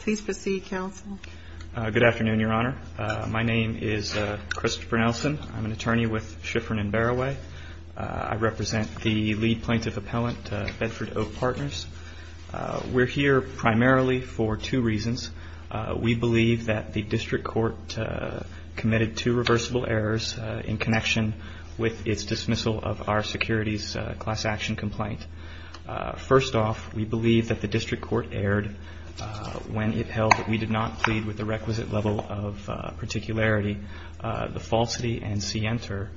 Please proceed, Counsel. Good afternoon, Your Honor. My name is Christopher Nelson. I'm an attorney with Schifrin & Berraway. I represent the lead plaintiff appellant, Bedford Oak Partners. We're here primarily for two reasons. We believe that the district court committed two reversible errors in connection with its dismissal of our securities class action complaint. First off, we believe that the district court erred when it held that we did not plead with the requisite level of particularity, the falsity and C enter,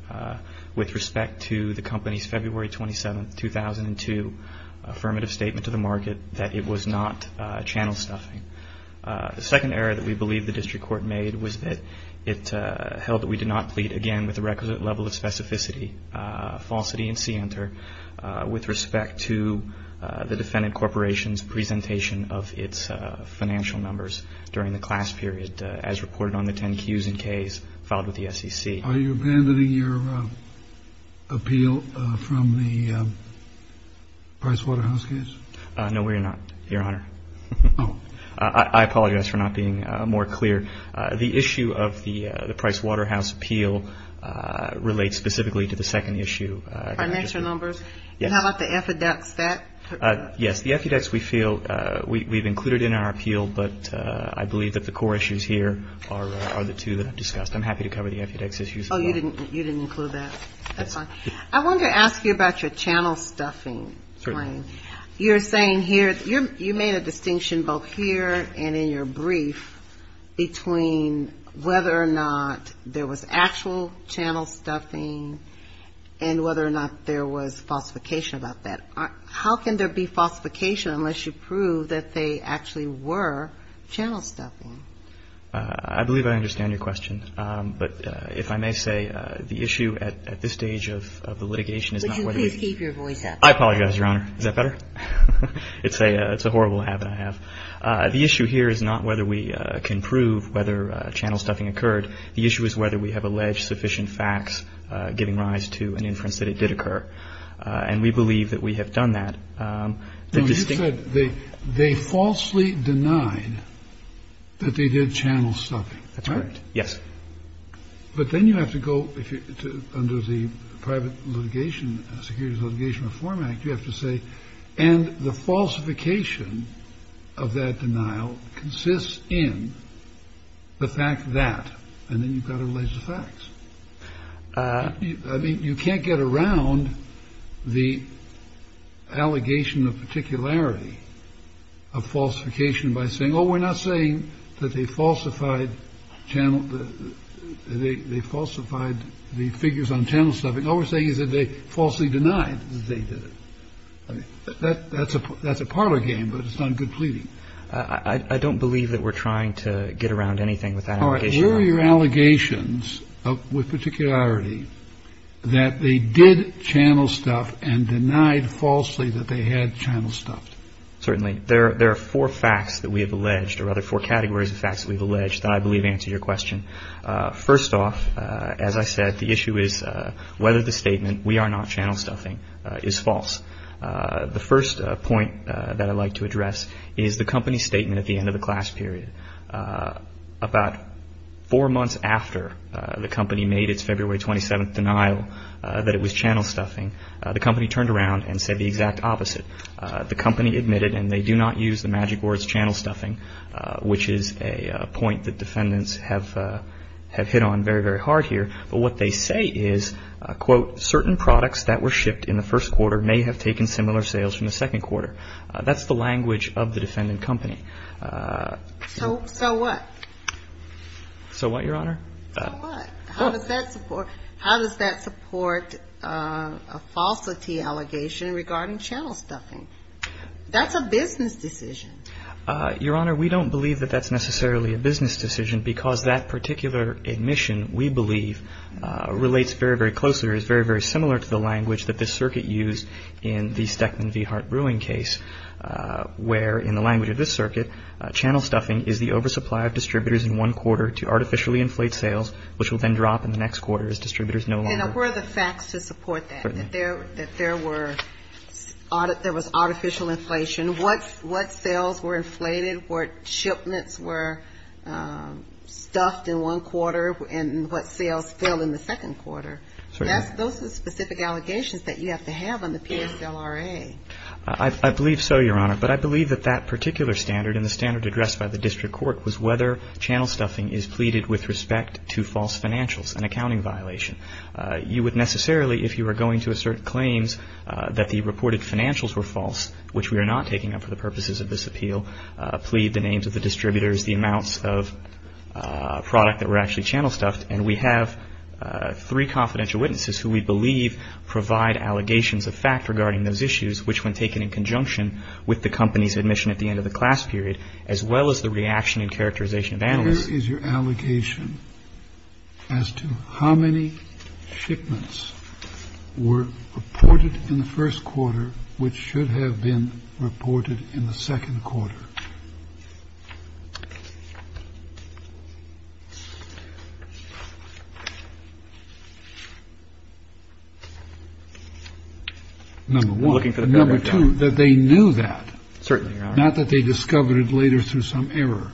with respect to the company's February 27, 2002, affirmative statement to the market that it was not channel stuffing. The second error that we believe the district court made was that it held that we did not plead, again, with the requisite level of specificity, falsity and C enter, with respect to the defendant corporation's presentation of its financial numbers during the class period, as reported on the 10 Qs and Ks filed with the SEC. Are you abandoning your appeal from the Price Waterhouse case? No, we're not, Your Honor. Oh. I apologize for not being more clear. The issue of the Price Waterhouse appeal relates specifically to the second issue. Financial numbers? Yes. And how about the FEDEX? Yes, the FEDEX we feel we've included in our appeal, but I believe that the core issues here are the two that I've discussed. I'm happy to cover the FEDEX issues as well. Oh, you didn't include that. I wanted to ask you about your channel stuffing claim. Certainly. You're saying here, you made a distinction both here and in your brief between whether or not there was actual channel stuffing and whether or not there was falsification about that. How can there be falsification unless you prove that they actually were channel stuffing? I believe I understand your question. But if I may say, the issue at this stage of the litigation is not whether we ---- Would you please keep your voice up? I apologize, Your Honor. Is that better? It's a horrible habit I have. The issue here is not whether we can prove whether channel stuffing occurred. The issue is whether we have alleged sufficient facts giving rise to an inference that it did occur. And we believe that we have done that. You said they falsely denied that they did channel stuffing. That's correct. Yes. But then you have to go under the private litigation, securities litigation reform act, you have to say. And the falsification of that denial consists in the fact that. And then you've got to release the facts. I mean, you can't get around the allegation of particularity of falsification by saying, oh, we're not saying that they falsified the figures on channel stuffing. All we're saying is that they falsely denied that they did it. That's a parlor game, but it's not good pleading. I don't believe that we're trying to get around anything with that allegation. Were your allegations with particularity that they did channel stuff and denied falsely that they had channel stuffed? Certainly. There are four facts that we have alleged or other four categories of facts we've alleged that I believe answer your question. First off, as I said, the issue is whether the statement we are not channel stuffing is false. The first point that I'd like to address is the company statement at the end of the class period. About four months after the company made its February 27th denial that it was channel stuffing, the company turned around and said the exact opposite. The company admitted, and they do not use the magic words channel stuffing, which is a point that defendants have hit on very, very hard here. But what they say is, quote, certain products that were shipped in the first quarter may have taken similar sales from the second quarter. That's the language of the defendant company. So what? So what, Your Honor? So what? How does that support a falsity allegation regarding channel stuffing? That's a business decision. Your Honor, we don't believe that that's necessarily a business decision because that particular admission, we believe, relates very, very closely or is very, very similar to the language that this circuit used in the Steckman v. Hart Brewing case, where in the language of this circuit, channel stuffing is the oversupply of distributors in one quarter to artificially inflate sales, which will then drop in the next quarter as distributors no longer. And what are the facts to support that, that there were artificial inflation? What sales were inflated? What shipments were stuffed in one quarter? And what sales fell in the second quarter? Those are specific allegations that you have to have on the PSLRA. I believe so, Your Honor. But I believe that that particular standard and the standard addressed by the district court was whether channel stuffing is pleaded with respect to false financials, an accounting violation. You would necessarily, if you were going to assert claims that the reported financials were false, which we are not taking up for the purposes of this appeal, plead the names of the distributors, the amounts of product that were actually channel stuffed. And we have three confidential witnesses who we believe provide allegations of fact regarding those issues, which when taken in conjunction with the company's admission at the end of the class period, as well as the reaction and characterization of analysts. So where is your allegation as to how many shipments were reported in the first quarter, which should have been reported in the second quarter? Number one. Number two, that they knew that. Certainly, Your Honor. Not that they discovered it later through some error.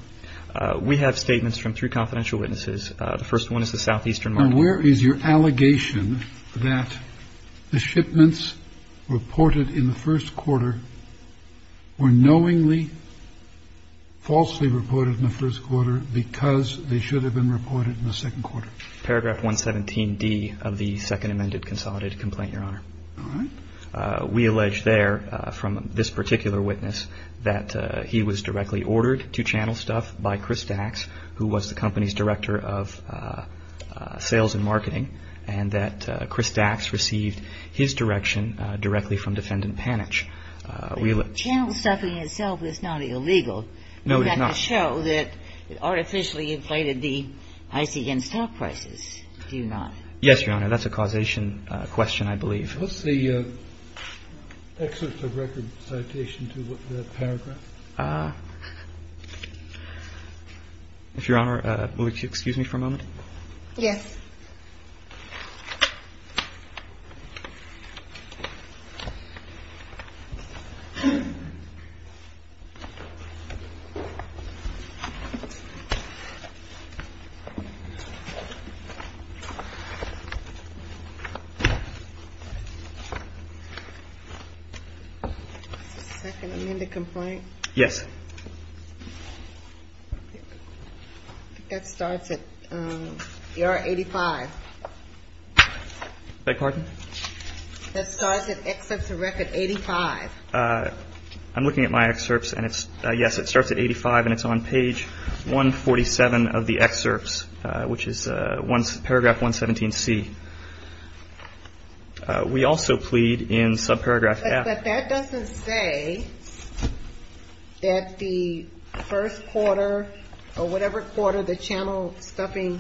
We have statements from three confidential witnesses. The first one is the Southeastern Market. Now, where is your allegation that the shipments reported in the first quarter were knowingly falsely reported in the first quarter because they should have been reported in the second quarter? Paragraph 117D of the Second Amended Consolidated Complaint, Your Honor. All right. We allege there from this particular witness that he was directly ordered to channel stuff by Chris Dax, who was the company's director of sales and marketing, and that Chris Dax received his direction directly from Defendant Panitch. Channel stuffing itself is not illegal. No, it is not. You have to show that it artificially inflated the ICN stock prices, do you not? Yes, Your Honor. That's a causation question, I believe. What's the excerpt of record citation to the paragraph? If Your Honor, would you excuse me for a moment? Yes. Is this the Second Amended Complaint? Yes. I think that starts at ER 85. Beg your pardon? That starts at excerpt to record 85. I'm looking at my excerpts, and yes, it starts at 85, and it's on page 147 of the excerpts, which is paragraph 117C. We also plead in subparagraph half. But that doesn't say that the first quarter or whatever quarter the channel stuffing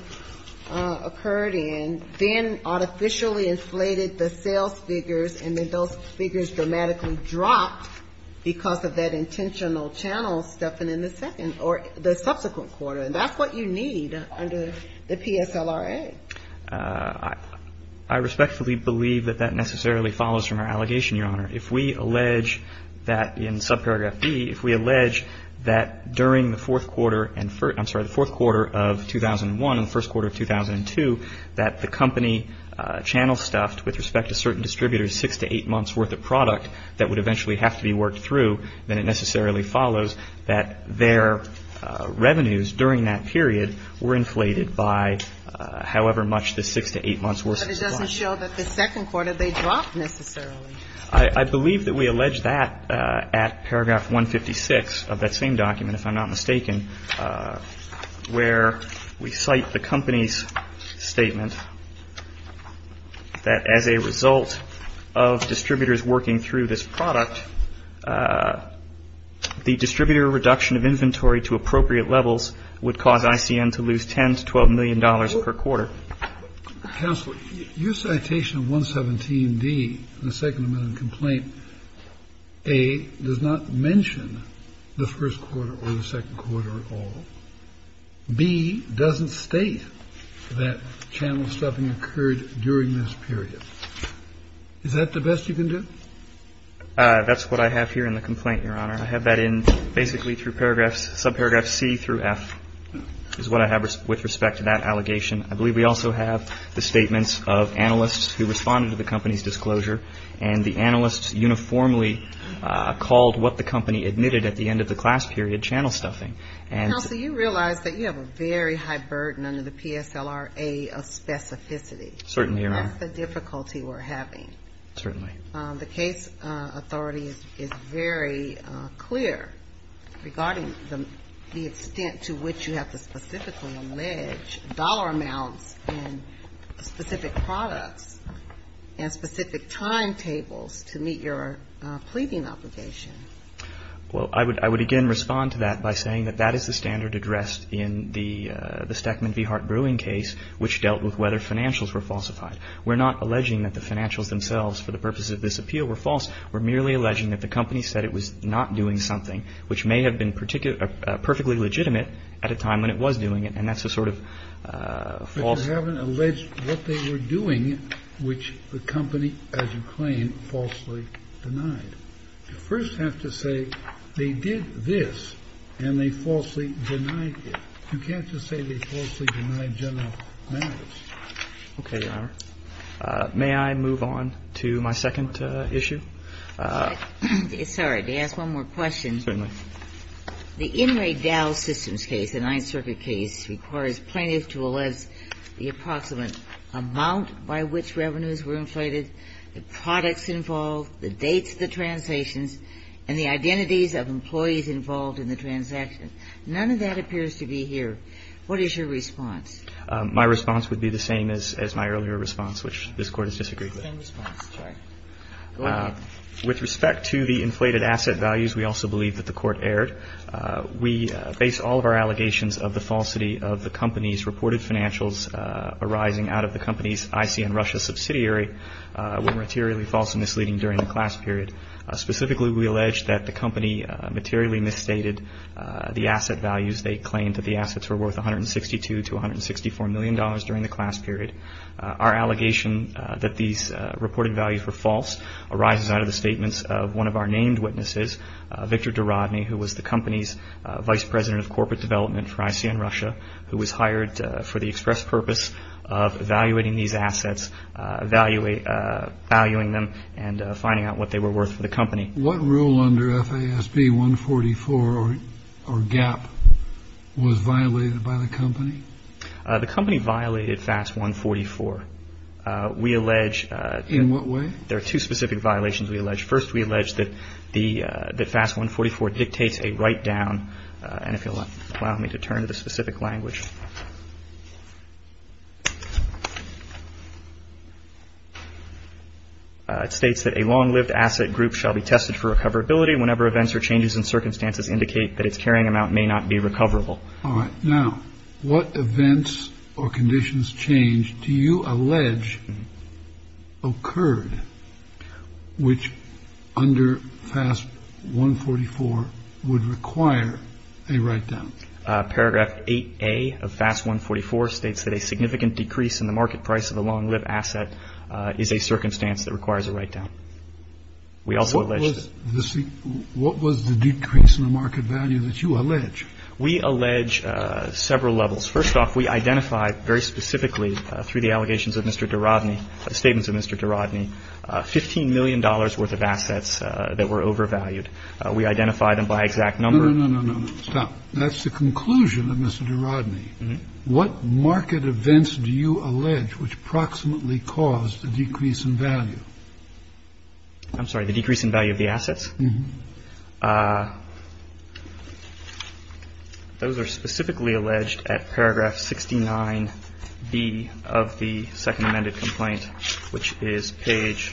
occurred in, then artificially inflated the sales figures, and then those figures dramatically dropped because of that intentional channel stuffing in the second or the subsequent quarter, and that's what you need under the PSLRA. I respectfully believe that that necessarily follows from our allegation, Your Honor. If we allege that in subparagraph B, if we allege that during the fourth quarter and first – I'm sorry, the fourth quarter of 2001 and the first quarter of 2002, that the company channel stuffed with respect to certain distributors six to eight months worth of product that would eventually have to be worked through, then it necessarily follows that their revenues during that period were inflated by, however much the six to eight months worth of product. But it doesn't show that the second quarter they dropped necessarily. I believe that we allege that at paragraph 156 of that same document, if I'm not mistaken, where we cite the company's statement that as a result of distributors working through this product, the distributor reduction of inventory to appropriate levels would cause ICN to lose $10 to $12 million per quarter. Counsel, your citation of 117D, the second amendment complaint, A, does not mention the first quarter or the second quarter at all. B, doesn't state that channel stuffing occurred during this period. Is that the best you can do? That's what I have here in the complaint, Your Honor. I have that in basically through paragraphs, subparagraphs C through F is what I have with respect to that allegation. I believe we also have the statements of analysts who responded to the company's disclosure and the analysts uniformly called what the company admitted at the end of the class period, channel stuffing. Counsel, you realize that you have a very high burden under the PSLRA of specificity. Certainly, Your Honor. That's the difficulty we're having. Certainly. The case authority is very clear regarding the extent to which you have to specifically allege dollar amounts and specific products and specific timetables to meet your pleading obligation. Well, I would again respond to that by saying that that is the standard addressed in the Stekman v. Hart Brewing case, which dealt with whether financials were falsified. We're not alleging that the financials themselves for the purpose of this appeal were false. We're merely alleging that the company said it was not doing something which may have been perfectly legitimate at a time when it was doing it, and that's a sort of false. But you haven't alleged what they were doing, which the company, as you claim, falsely denied. You first have to say they did this and they falsely denied it. You can't just say they falsely denied general matters. Okay, Your Honor. May I move on to my second issue? Sorry. May I ask one more question? Certainly. The Inmate Dow Systems case, the Ninth Circuit case, requires plaintiffs to allege the approximate amount by which revenues were inflated, the products involved, the dates of the transactions, and the identities of employees involved in the transaction. None of that appears to be here. What is your response? My response would be the same as my earlier response, which this Court has disagreed with. Same response, sorry. Go ahead. With respect to the inflated asset values, we also believe that the Court erred. We base all of our allegations of the falsity of the company's reported financials arising out of the company's ICN Russia subsidiary were materially false and misleading during the class period. Specifically, we allege that the company materially misstated the asset values. They claimed that the assets were worth $162 to $164 million during the class period. Our allegation that these reported values were false arises out of the statements of one of our named witnesses, Victor DeRodney, who was the company's vice president of corporate development for ICN Russia, who was hired for the express purpose of evaluating these assets, valuing them and finding out what they were worth for the company. What rule under FASB 144, or GAAP, was violated by the company? The company violated FAS 144. We allege that- In what way? There are two specific violations we allege. First, we allege that FAS 144 dictates a write-down, and if you'll allow me to turn to the specific language. It states that a long-lived asset group shall be tested for recoverability whenever events or changes in circumstances indicate that its carrying amount may not be recoverable. All right. Now, what events or conditions change do you allege occurred which under FAS 144 would require a write-down? Paragraph 8A of FAS 144 states that a significant decrease in the market price of a long-lived asset is a circumstance that requires a write-down. We also allege- What was the decrease in the market value that you allege? We allege several levels. First off, we identified very specifically through the allegations of Mr. DeRodney, statements of Mr. DeRodney, $15 million worth of assets that were overvalued. We identified them by exact number- No, no, no, no, no. That's the conclusion of Mr. DeRodney. What market events do you allege which approximately caused the decrease in value? I'm sorry. The decrease in value of the assets? Uh-huh. Those are specifically alleged at paragraph 69B of the second amended complaint, which is page-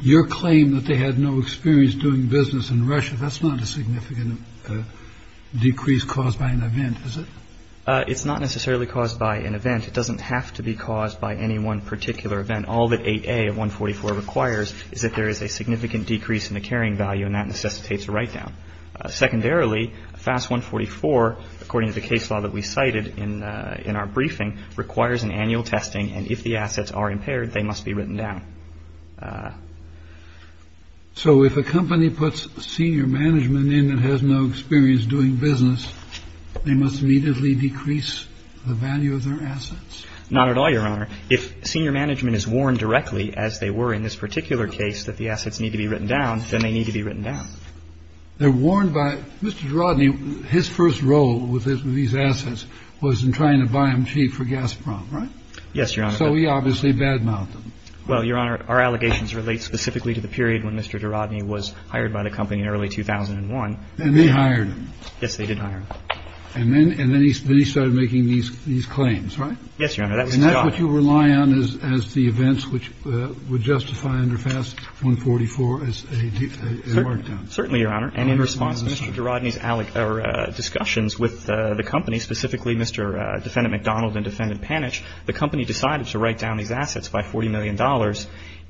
Your claim that they had no experience doing business in Russia, that's not a significant decrease caused by an event, is it? It's not necessarily caused by an event. It doesn't have to be caused by any one particular event. All that 8A of 144 requires is that there is a significant decrease in the carrying value, and that necessitates a write-down. Secondarily, FAS 144, according to the case law that we cited in our briefing, requires an annual testing, and if the assets are impaired, they must be written down. So if a company puts senior management in and has no experience doing business, they must immediately decrease the value of their assets? Not at all, Your Honor. If senior management is warned directly, as they were in this particular case, that the assets need to be written down, then they need to be written down. They're warned by Mr. DeRodney. His first role with these assets was in trying to buy them cheap for Gazprom, right? Yes, Your Honor. So he obviously badmouthed them. Well, Your Honor, our allegations relate specifically to the period when Mr. DeRodney was hired by the company in early 2001. And they hired him. Yes, they did hire him. And then he started making these claims, right? Yes, Your Honor. And that's what you rely on as the events which would justify under FAS 144 as a markdown? Certainly, Your Honor. And in response, Mr. DeRodney's discussions with the company, specifically Mr. Defendant MacDonald and Defendant Panitch, the company decided to write down these assets by $40 million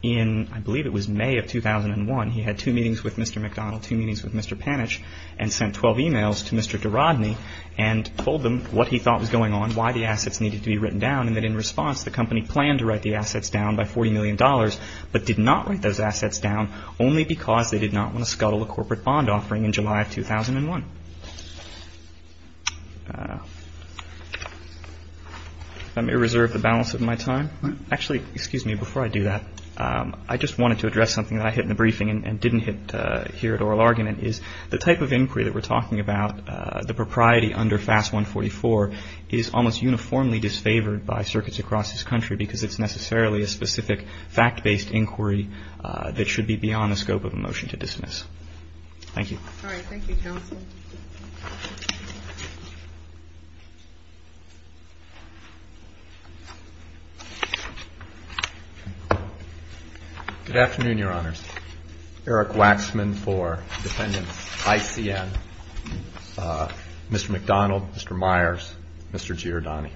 in, I believe it was May of 2001. He had two meetings with Mr. MacDonald, two meetings with Mr. Panitch, and sent 12 e-mails to Mr. DeRodney and told them what he thought was going on, why the assets needed to be written down, and that in response the company planned to write the assets down by $40 million, but did not write those assets down only because they did not want to scuttle a corporate bond offering in July of 2001. If I may reserve the balance of my time. Actually, excuse me, before I do that, I just wanted to address something that I hit in the briefing and didn't hit here at oral argument, is the type of inquiry that we're talking about, the propriety under FAS 144 is almost uniformly disfavored by circuits across this country because it's necessarily a specific fact-based inquiry that should be beyond the scope of a motion to dismiss. Thank you. All right. Thank you, counsel. Thank you. Good afternoon, Your Honors. Eric Waxman for defendants ICN. Mr. MacDonald, Mr. Myers, Mr. Giordani.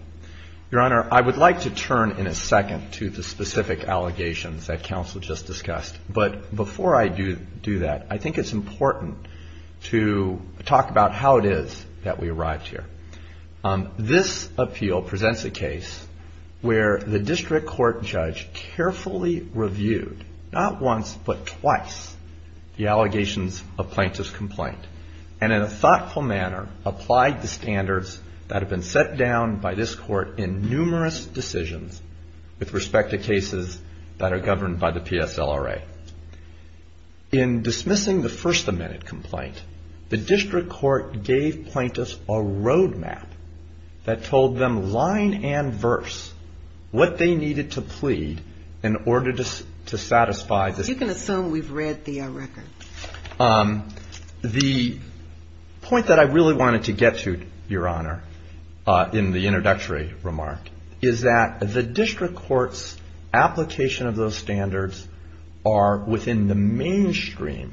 Your Honor, I would like to turn in a second to the specific allegations that counsel just discussed, but before I do that, I think it's important to talk about how it is that we arrived here. This appeal presents a case where the district court judge carefully reviewed, not once, but twice the allegations of plaintiff's complaint, and in a thoughtful manner applied the standards that have been set down by this court in numerous decisions with respect to cases that are governed by the PSLRA. In dismissing the first amendment complaint, the district court gave plaintiffs a road map that told them line and verse what they needed to plead in order to satisfy the You can assume we've read the record. The point that I really wanted to get to, Your Honor, in the introductory remark, is that the district court's application of those standards are within the mainstream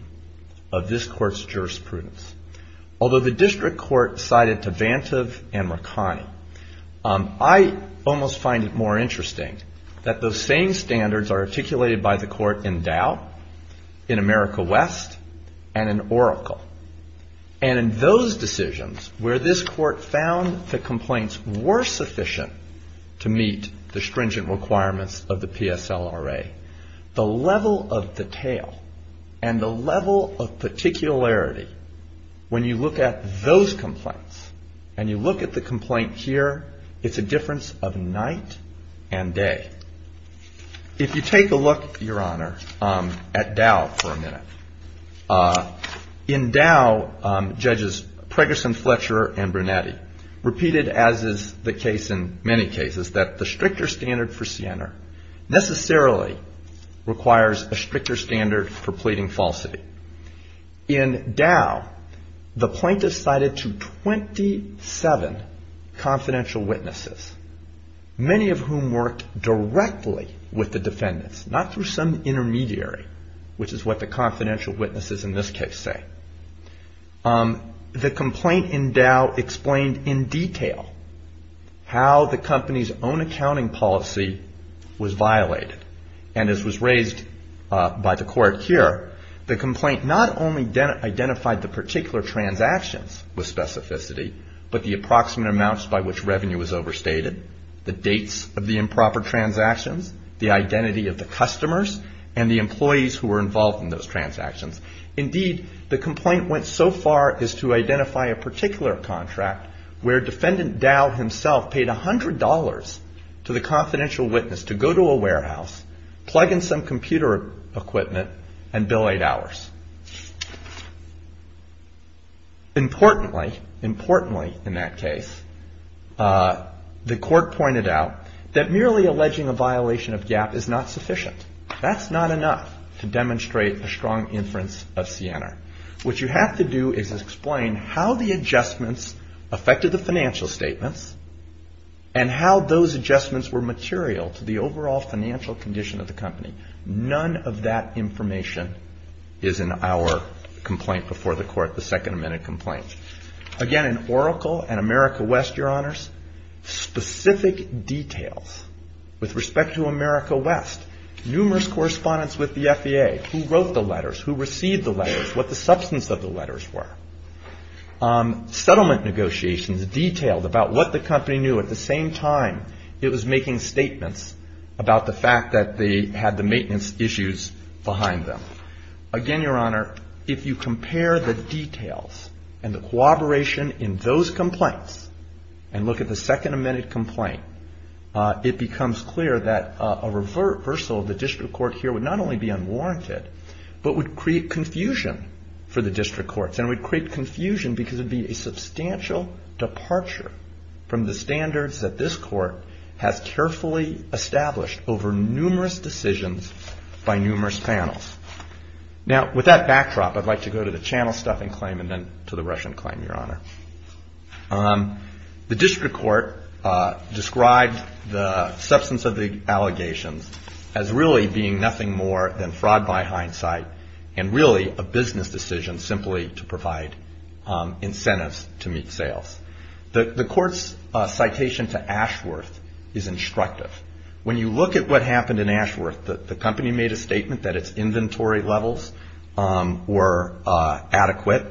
of this court's jurisprudence. Although the district court cited Tavantive and Mercani, I almost find it more interesting that those same standards are articulated by the court in Dow, in America West, and in Oracle. And in those decisions where this court found the complaints were sufficient to meet the stringent requirements of the PSLRA, the level of detail and the level of particularity when you look at those complaints and you look at the complaint here, it's a difference of night and day. If you take a look, Your Honor, at Dow for a minute. In Dow, Judges Preggerson, Fletcher, and Brunetti repeated, as is the case in many cases, that the stricter standard for Siena necessarily requires a stricter standard for pleading falsity. In Dow, the plaintiffs cited to 27 confidential witnesses, many of whom worked directly with the defendants, not through some intermediary, which is what the confidential witnesses in this case say. The complaint in Dow explained in detail how the company's own accounting policy was violated. And as was raised by the court here, the complaint not only identified the particular transactions with specificity, but the approximate amounts by which revenue was overstated, the dates of the improper transactions, the identity of the customers, and the employees who were involved in those transactions. Indeed, the complaint went so far as to identify a particular contract where defendant Dow himself paid $100 to the confidential witness to go to a warehouse, plug in some computer equipment, and bill eight hours. Importantly, in that case, the court pointed out that merely alleging a violation of GAAP is not sufficient. That's not enough to demonstrate a strong inference of Siena. What you have to do is explain how the adjustments affected the financial statements and how those adjustments were material to the overall financial condition of the company. None of that information is in our complaint before the court, the Second Amendment complaint. Again, in Oracle and America West, Your Honors, specific details with respect to America West, numerous correspondence with the FBA, who wrote the letters, who received the letters, what the substance of the letters were. Settlement negotiations detailed about what the company knew at the same time it was making statements about the fact that they had the maintenance issues behind them. Again, Your Honor, if you compare the details and the cooperation in those complaints and look at the Second Amendment complaint, it becomes clear that a reversal of the district court here would not only be unwarranted, but would create confusion for the district courts. And it would create confusion because it would be a substantial departure from the standards that this court has carefully established over numerous decisions by numerous panels. Now, with that backdrop, I'd like to go to the channel stuffing claim and then to the Russian claim, Your Honor. The district court described the substance of the allegations as really being nothing more than fraud by hindsight and really a business decision simply to provide incentives to meet sales. The court's citation to Ashworth is instructive. When you look at what happened in Ashworth, the company made a statement that its inventory levels were adequate,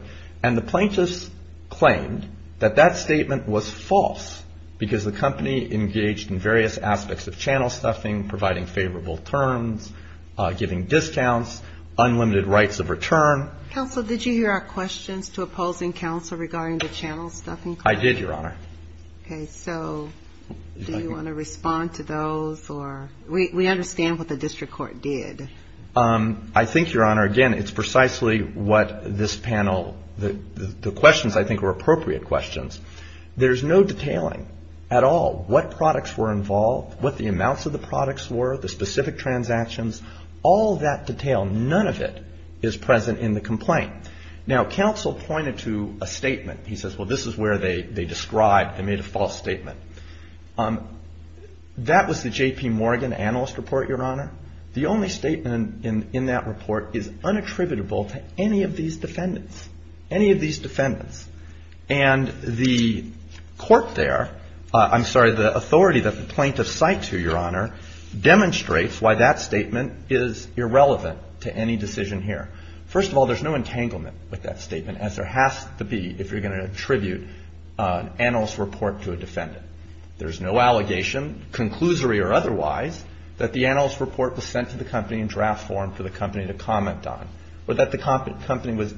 and the plaintiffs claimed that that statement was false because the company engaged in various aspects of channel stuffing, providing favorable terms, giving discounts, unlimited rights of return. Counsel, did you hear our questions to opposing counsel regarding the channel stuffing claim? I did, Your Honor. Okay. So do you want to respond to those? We understand what the district court did. I think, Your Honor, again, it's precisely what this panel, the questions I think were appropriate questions. There's no detailing at all what products were involved, what the amounts of the products were, the specific transactions. All that detail, none of it is present in the complaint. Now, counsel pointed to a statement. He says, well, this is where they described, they made a false statement. That was the J.P. Morgan analyst report, Your Honor. The only statement in that report is unattributable to any of these defendants, any of these defendants. And the court there, I'm sorry, the authority that the plaintiffs cite to, Your Honor, demonstrates why that statement is irrelevant to any decision here. First of all, there's no entanglement with that statement, as there has to be if you're going to attribute an analyst report to a defendant. There's no allegation, conclusory or otherwise, that the analyst report was sent to the company in draft form for the company to comment on, or that the company was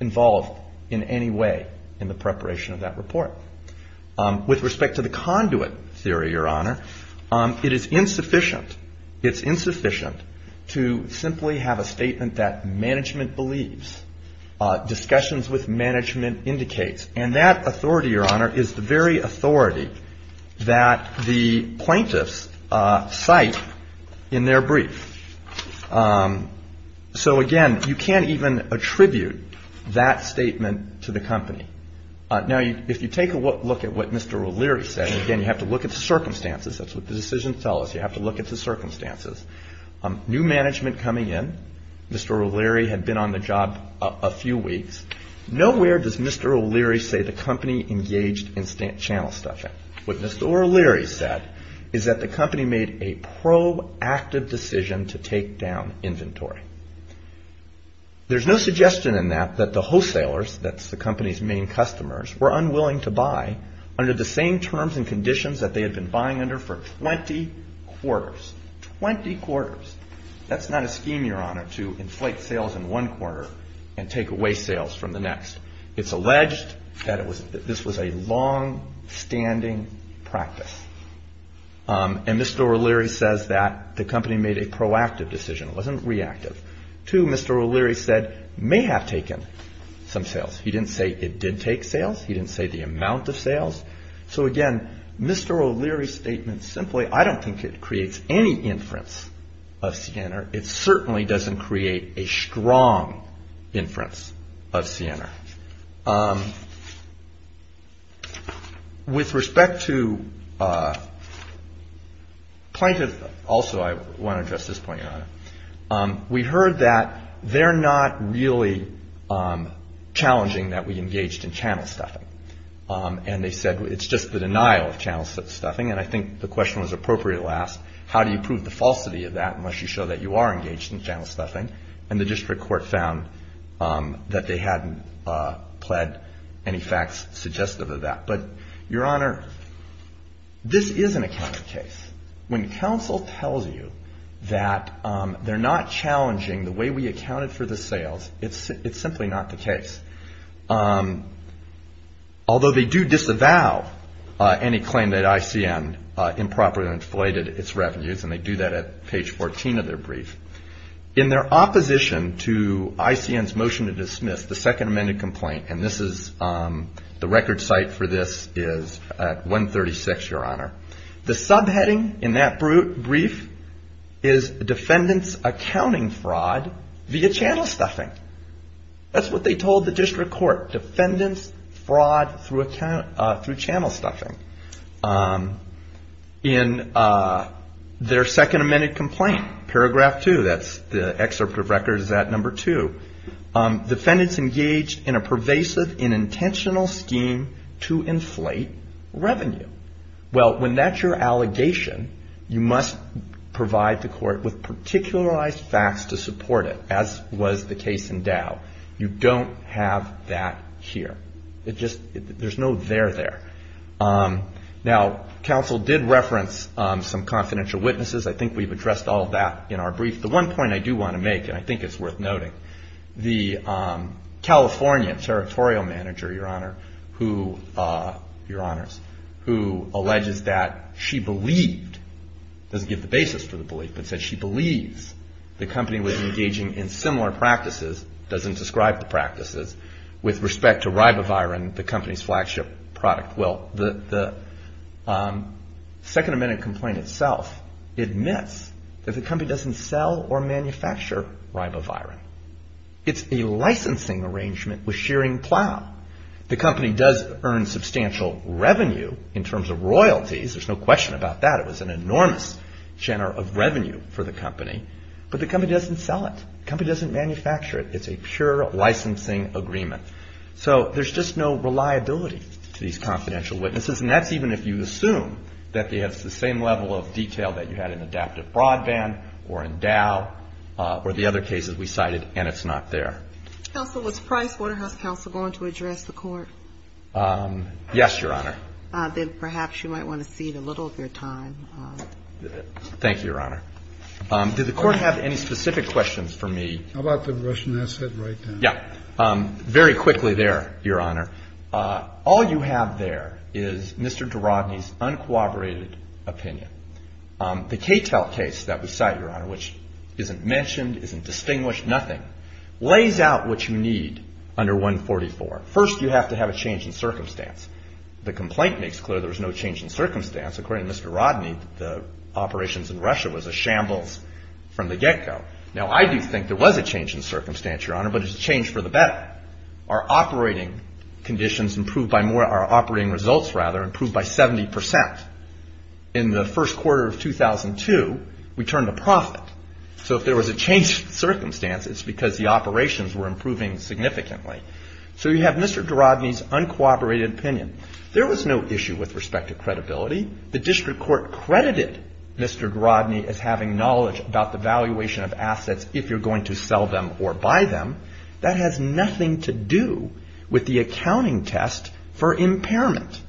involved in any way in the preparation of that report. With respect to the conduit theory, Your Honor, it is insufficient, it's insufficient to simply have a statement that management believes, discussions with management indicates. And that authority, Your Honor, is the very authority that the plaintiffs cite in their brief. So, again, you can't even attribute that statement to the company. Now, if you take a look at what Mr. O'Leary said, again, you have to look at the circumstances. That's what the decisions tell us. You have to look at the circumstances. New management coming in. Mr. O'Leary had been on the job a few weeks. Nowhere does Mr. O'Leary say the company engaged in channel stuffing. What Mr. O'Leary said is that the company made a proactive decision to take down inventory. There's no suggestion in that that the wholesalers, that's the company's main customers, were unwilling to buy under the same terms and conditions that they had been buying under for 20 quarters. Twenty quarters. That's not a scheme, Your Honor, to inflate sales in one quarter and take away sales from the next. It's alleged that this was a longstanding practice. And Mr. O'Leary says that the company made a proactive decision. It wasn't reactive. Two, Mr. O'Leary said, may have taken some sales. He didn't say it did take sales. He didn't say the amount of sales. So, again, Mr. O'Leary's statement simply, I don't think it creates any inference of CNR. It certainly doesn't create a strong inference of CNR. With respect to plaintiff, also I want to address this point, Your Honor. We heard that they're not really challenging that we engaged in channel stuffing. And they said it's just the denial of channel stuffing. And I think the question was appropriate at last. How do you prove the falsity of that unless you show that you are engaged in channel stuffing? And the district court found that they hadn't pled any facts suggestive of that. But, Your Honor, this is an accounting case. When counsel tells you that they're not challenging the way we accounted for the sales, it's simply not the case. Although they do disavow any claim that ICN improperly inflated its revenues, and they do that at page 14 of their brief. In their opposition to ICN's motion to dismiss the second amended complaint, and this is the record site for this is at 136, Your Honor. The subheading in that brief is defendant's accounting fraud via channel stuffing. That's what they told the district court. Defendant's fraud through channel stuffing. In their second amended complaint, paragraph two, that's the excerpt of record is at number two. Defendant's engaged in a pervasive and intentional scheme to inflate revenue. Well, when that's your allegation, you must provide the court with particularized facts to support it, as was the case in Dow. You don't have that here. There's no there there. Now, counsel did reference some confidential witnesses. I think we've addressed all of that in our brief. The one point I do want to make, and I think it's worth noting, the Californian territorial manager, Your Honor, who alleges that she believed, doesn't give the basis for the belief, but said she believes the company was engaging in similar practices, doesn't describe the practices, with respect to ribavirin, the company's flagship product. Well, the second amended complaint itself admits that the company doesn't sell or manufacture ribavirin. It's a licensing arrangement with Shearing Plow. The company does earn substantial revenue in terms of royalties. There's no question about that. It was an enormous share of revenue for the company. But the company doesn't sell it. The company doesn't manufacture it. It's a pure licensing agreement. So there's just no reliability to these confidential witnesses. And that's even if you assume that they have the same level of detail that you had in adaptive broadband or in Dow or the other cases we cited, and it's not there. Counsel, was Price Waterhouse Counsel going to address the court? Yes, Your Honor. Then perhaps you might want to cede a little of your time. Thank you, Your Honor. Did the Court have any specific questions for me? How about the question I said right now? Yeah. Very quickly there, Your Honor. All you have there is Mr. DeRodney's uncooperated opinion. The Cattell case that we cite, Your Honor, which isn't mentioned, isn't distinguished, nothing, lays out what you need under 144. First, you have to have a change in circumstance. The complaint makes clear there's no change in circumstance. According to Mr. Rodney, the operations in Russia was a shambles from the get-go. Now, I do think there was a change in circumstance, Your Honor, but it's a change for the better. Our operating conditions improved by more, our operating results, rather, improved by 70%. In the first quarter of 2002, we turned a profit. So if there was a change in circumstance, it's because the operations were improving significantly. So you have Mr. DeRodney's uncooperated opinion. There was no issue with respect to credibility. The District Court credited Mr. DeRodney as having knowledge about the valuation of assets if you're going to sell them or buy them. That has nothing to do with the accounting test for impairment.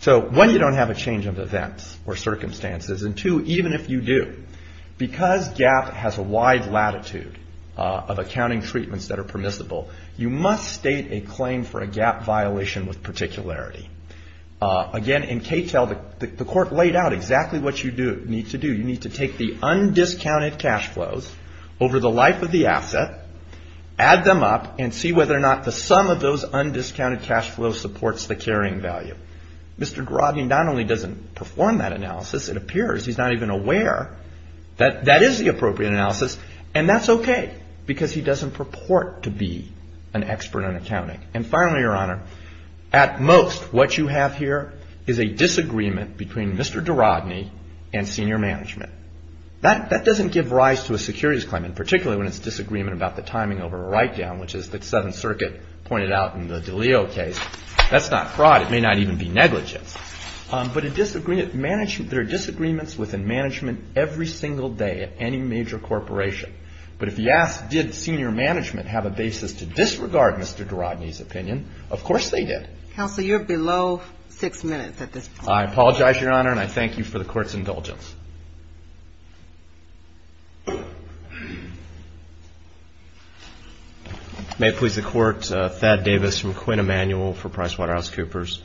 So, one, you don't have a change of events or circumstances, and two, even if you do, because GAAP has a wide latitude of accounting treatments that are permissible, you must state a claim for a GAAP violation with particularity. Again, in CATEL, the Court laid out exactly what you need to do. You need to take the undiscounted cash flows over the life of the asset, add them up, and see whether or not the sum of those undiscounted cash flows supports the carrying value. Mr. DeRodney not only doesn't perform that analysis, it appears he's not even aware that that is the appropriate analysis, and that's okay because he doesn't purport to be an expert in accounting. And finally, Your Honor, at most, what you have here is a disagreement between Mr. DeRodney and senior management. That doesn't give rise to a securities claimant, particularly when it's a disagreement about the timing over a write-down, which is the Seventh Circuit pointed out in the DiLeo case. That's not fraud. It may not even be negligence. But there are disagreements within management every single day at any major corporation. But if you ask, did senior management have a basis to disregard Mr. DeRodney's opinion, of course they did. Counsel, you're below six minutes at this point. I apologize, Your Honor, and I thank you for the Court's indulgence. May it please the Court, Thad Davis from Quinn Emanuel for PricewaterhouseCoopers.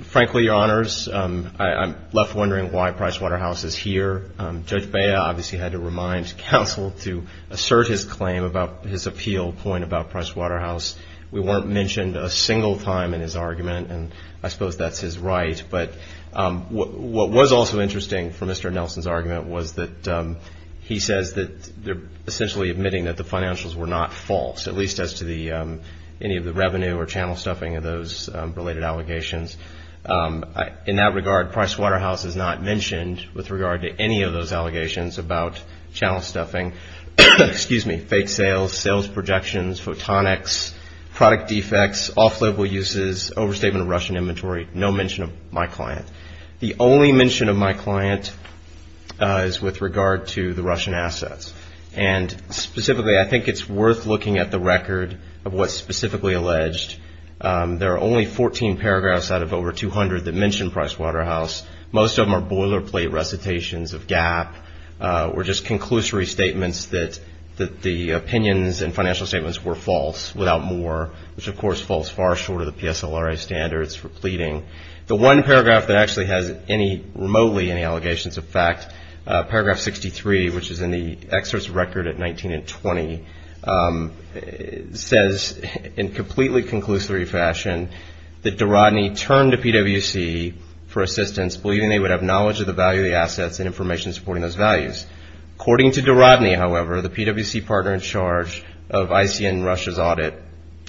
Frankly, Your Honors, I'm left wondering why Pricewaterhouse is here. Judge Bea obviously had to remind counsel to assert his claim about his appeal point about Pricewaterhouse. We weren't mentioned a single time in his argument, and I suppose that's his right. But what was also interesting from Mr. Nelson's argument was that he says that they're essentially admitting that the financials were not false, at least as to any of the revenue or channel stuffing of those related allegations. In that regard, Pricewaterhouse is not mentioned with regard to any of those allegations about channel stuffing. Excuse me, fake sales, sales projections, photonics, product defects, off-label uses, overstatement of Russian inventory. No mention of my client. The only mention of my client is with regard to the Russian assets. And specifically, I think it's worth looking at the record of what's specifically alleged. There are only 14 paragraphs out of over 200 that mention Pricewaterhouse. Most of them are boilerplate recitations of GAAP or just conclusory statements that the opinions and financial statements were false, without more, which, of course, falls far short of the PSLRA standards for pleading. The one paragraph that actually has any remotely any allegations of fact, paragraph 63, which is in the excerpt's record at 19 and 20, says in completely conclusory fashion that DeRodney turned to PwC for assistance, believing they would have knowledge of the value of the assets and information supporting those values. According to DeRodney, however, the PwC partner in charge of ICN Russia's audit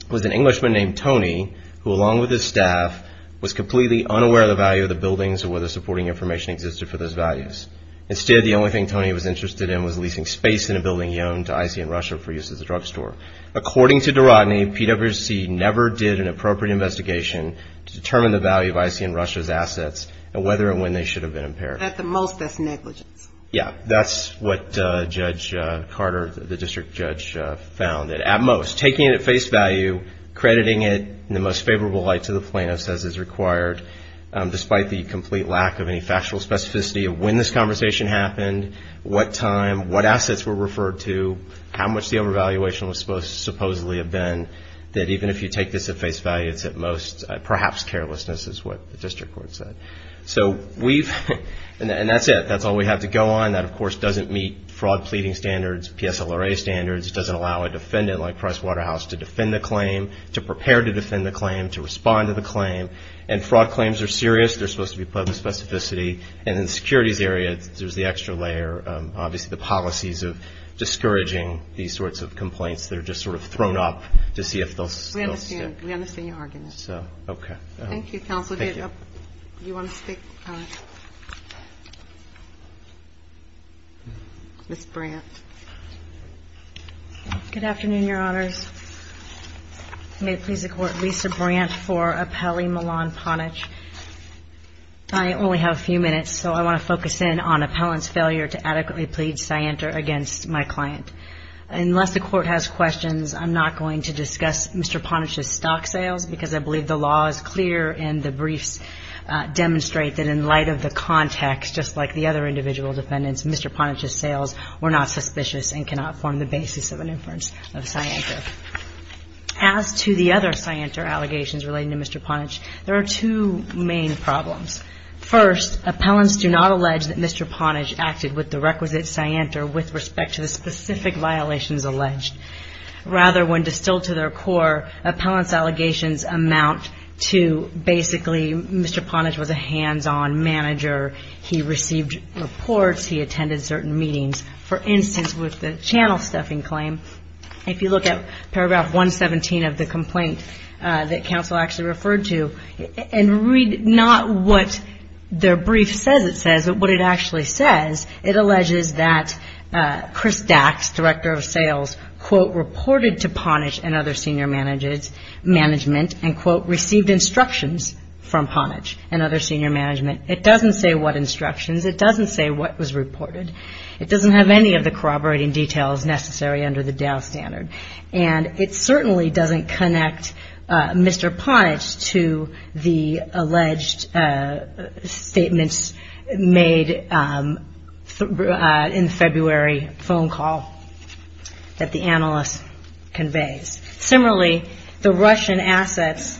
was an Englishman named Tony, who, along with his staff, was completely unaware of the value of the buildings or whether supporting information existed for those values. Instead, the only thing Tony was interested in was leasing space in a building he owned to ICN Russia for use as a drugstore. According to DeRodney, PwC never did an appropriate investigation to determine the value of ICN Russia's assets and whether and when they should have been impaired. At the most, that's negligence. Yeah, that's what Judge Carter, the district judge, found. At most, taking it at face value, crediting it in the most favorable light to the plaintiff, as is required, despite the complete lack of any factual specificity of when this conversation happened, what time, what assets were referred to, how much the overvaluation was supposed to supposedly have been, that even if you take this at face value, it's at most perhaps carelessness, is what the district court said. So we've – and that's it. That's all we have to go on. That, of course, doesn't meet fraud pleading standards, PSLRA standards. It doesn't allow a defendant like Price Waterhouse to defend the claim, to prepare to defend the claim, to respond to the claim. And fraud claims are serious. They're supposed to be public specificity. And in the securities area, there's the extra layer, obviously, the policies of discouraging these sorts of complaints that are just sort of thrown up to see if they'll stick. We understand. We understand your argument. So, okay. Thank you, counsel. Thank you. Do you want to speak, Ms. Brandt? Good afternoon, Your Honors. May it please the Court, Lisa Brandt for Appellee Milan Ponich. I only have a few minutes, so I want to focus in on appellant's failure to adequately plead scienter against my client. Unless the Court has questions, I'm not going to discuss Mr. Ponich's stock sales because I believe the law is clear and the briefs demonstrate that in light of the context, just like the other individual defendants, Mr. Ponich's sales were not suspicious and cannot form the basis of an inference of scienter. As to the other scienter allegations relating to Mr. Ponich, there are two main problems. First, appellants do not allege that Mr. Ponich acted with the requisite scienter with respect to the specific violations alleged. Rather, when distilled to their core, appellant's allegations amount to basically Mr. Ponich was a hands-on manager. He received reports. He attended certain meetings. For instance, with the channel stuffing claim, if you look at paragraph 117 of the complaint that counsel actually referred to and read not what their brief says it says, but what it actually says, it alleges that Chris Dax, director of sales, quote, reported to Ponich and other senior management and, quote, received instructions from Ponich and other senior management. It doesn't say what instructions. It doesn't say what was reported. It doesn't have any of the corroborating details necessary under the Dow standard. And it certainly doesn't connect Mr. Ponich to the alleged statements made in February phone call that the analyst conveys. Similarly, the Russian assets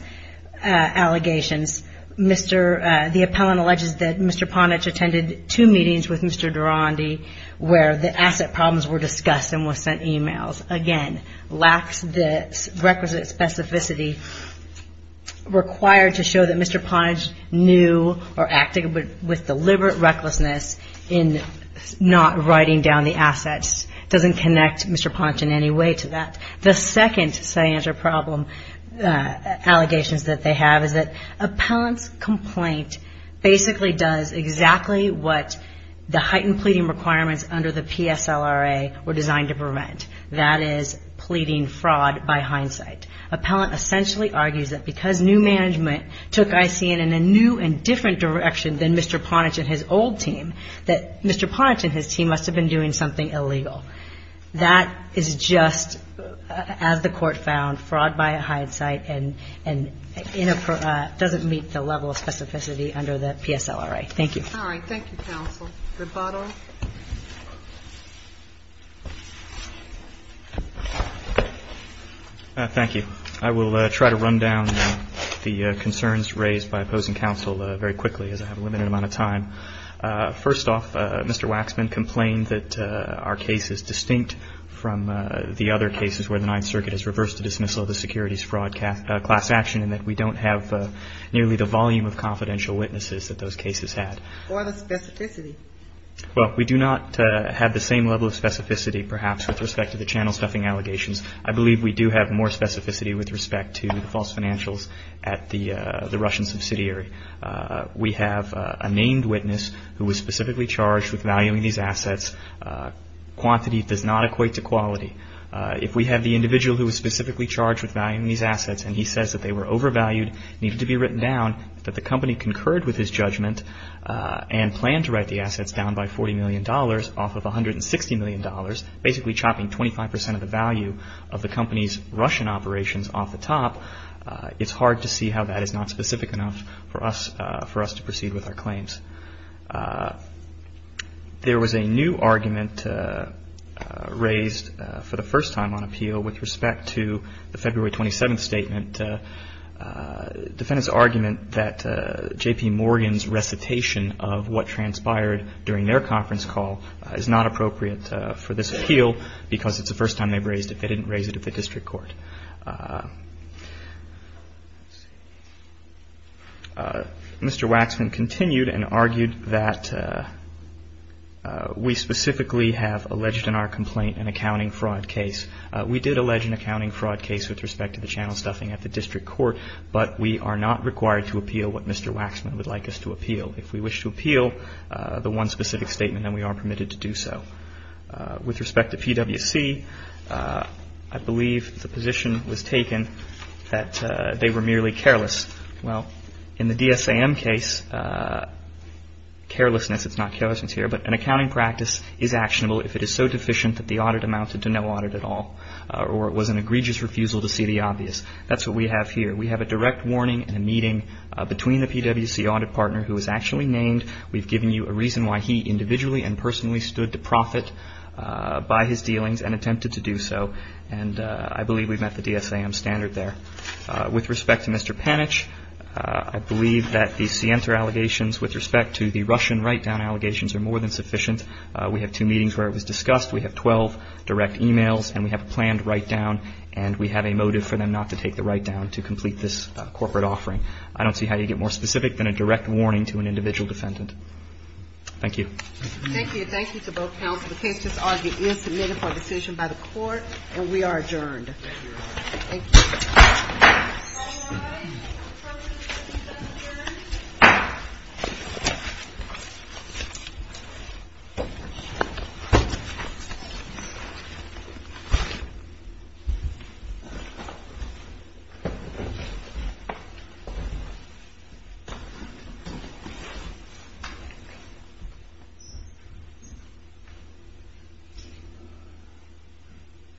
allegations, the appellant alleges that Mr. Ponich attended two meetings with Mr. Durandi where the asset problems were discussed and were sent e-mails. Again, lacks the requisite specificity required to show that Mr. Ponich knew or acted with deliberate recklessness in not writing down the assets. It doesn't connect Mr. Ponich in any way to that. The second say answer problem allegations that they have is that appellant's complaint basically does exactly what the heightened pleading requirements under the PSLRA were designed to prevent. That is pleading fraud by hindsight. Appellant essentially argues that because new management took ICN in a new and different direction than Mr. Ponich and his old team, that Mr. Ponich and his team must have been doing something illegal. That is just, as the Court found, fraud by hindsight and doesn't meet the level of specificity under the PSLRA. Thank you. All right. Thank you, counsel. The bottom. Thank you. I will try to run down the concerns raised by opposing counsel very quickly as I have a limited amount of time. First off, Mr. Waxman complained that our case is distinct from the other cases where the Ninth Circuit has reversed the dismissal of the securities fraud class action and that we don't have nearly the volume of confidential witnesses that those cases had. What is specificity? Well, we do not have the same level of specificity perhaps with respect to the channel stuffing allegations. I believe we do have more specificity with respect to the false financials at the Russian subsidiary. We have a named witness who was specifically charged with valuing these assets. Quantity does not equate to quality. If we have the individual who was specifically charged with valuing these assets and he says that they were overvalued, needed to be written down, that the company concurred with his judgment and planned to write the assets down by $40 million off of $160 million, basically chopping 25 percent of the value of the company's Russian operations off the top, it's hard to see how that is not specific enough for us to proceed with our claims. There was a new argument raised for the first time on appeal with respect to the February 27th statement. Defendants' argument that J.P. Morgan's recitation of what transpired during their conference call is not appropriate for this appeal because it's the first time they've raised it. They didn't raise it at the district court. Mr. Waxman continued and argued that we specifically have alleged in our complaint an accounting fraud case. We did allege an accounting fraud case with respect to the channel stuffing at the district court, but we are not required to appeal what Mr. Waxman would like us to appeal. If we wish to appeal the one specific statement, then we are permitted to do so. With respect to PwC, I believe the position was taken that they were merely careless. Well, in the DSAM case, carelessness is not carelessness here, but an accounting practice is actionable if it is so deficient that the audit amounted to no audit at all or it was an egregious refusal to see the obvious. That's what we have here. We have a direct warning and a meeting between the PwC audit partner who was actually named. We've given you a reason why he individually and personally stood to profit by his dealings and attempted to do so, and I believe we've met the DSAM standard there. With respect to Mr. Panich, I believe that the Sienta allegations with respect to the Russian write-down allegations are more than sufficient. We have two meetings where it was discussed. We have 12 direct e-mails, and we have a planned write-down, and we have a motive for them not to take the write-down to complete this corporate offering. I don't see how you get more specific than a direct warning to an individual defendant. Thank you. Thank you. Thank you to both counsel. The case is submitted for decision by the court, and we are adjourned. Thank you. All rise.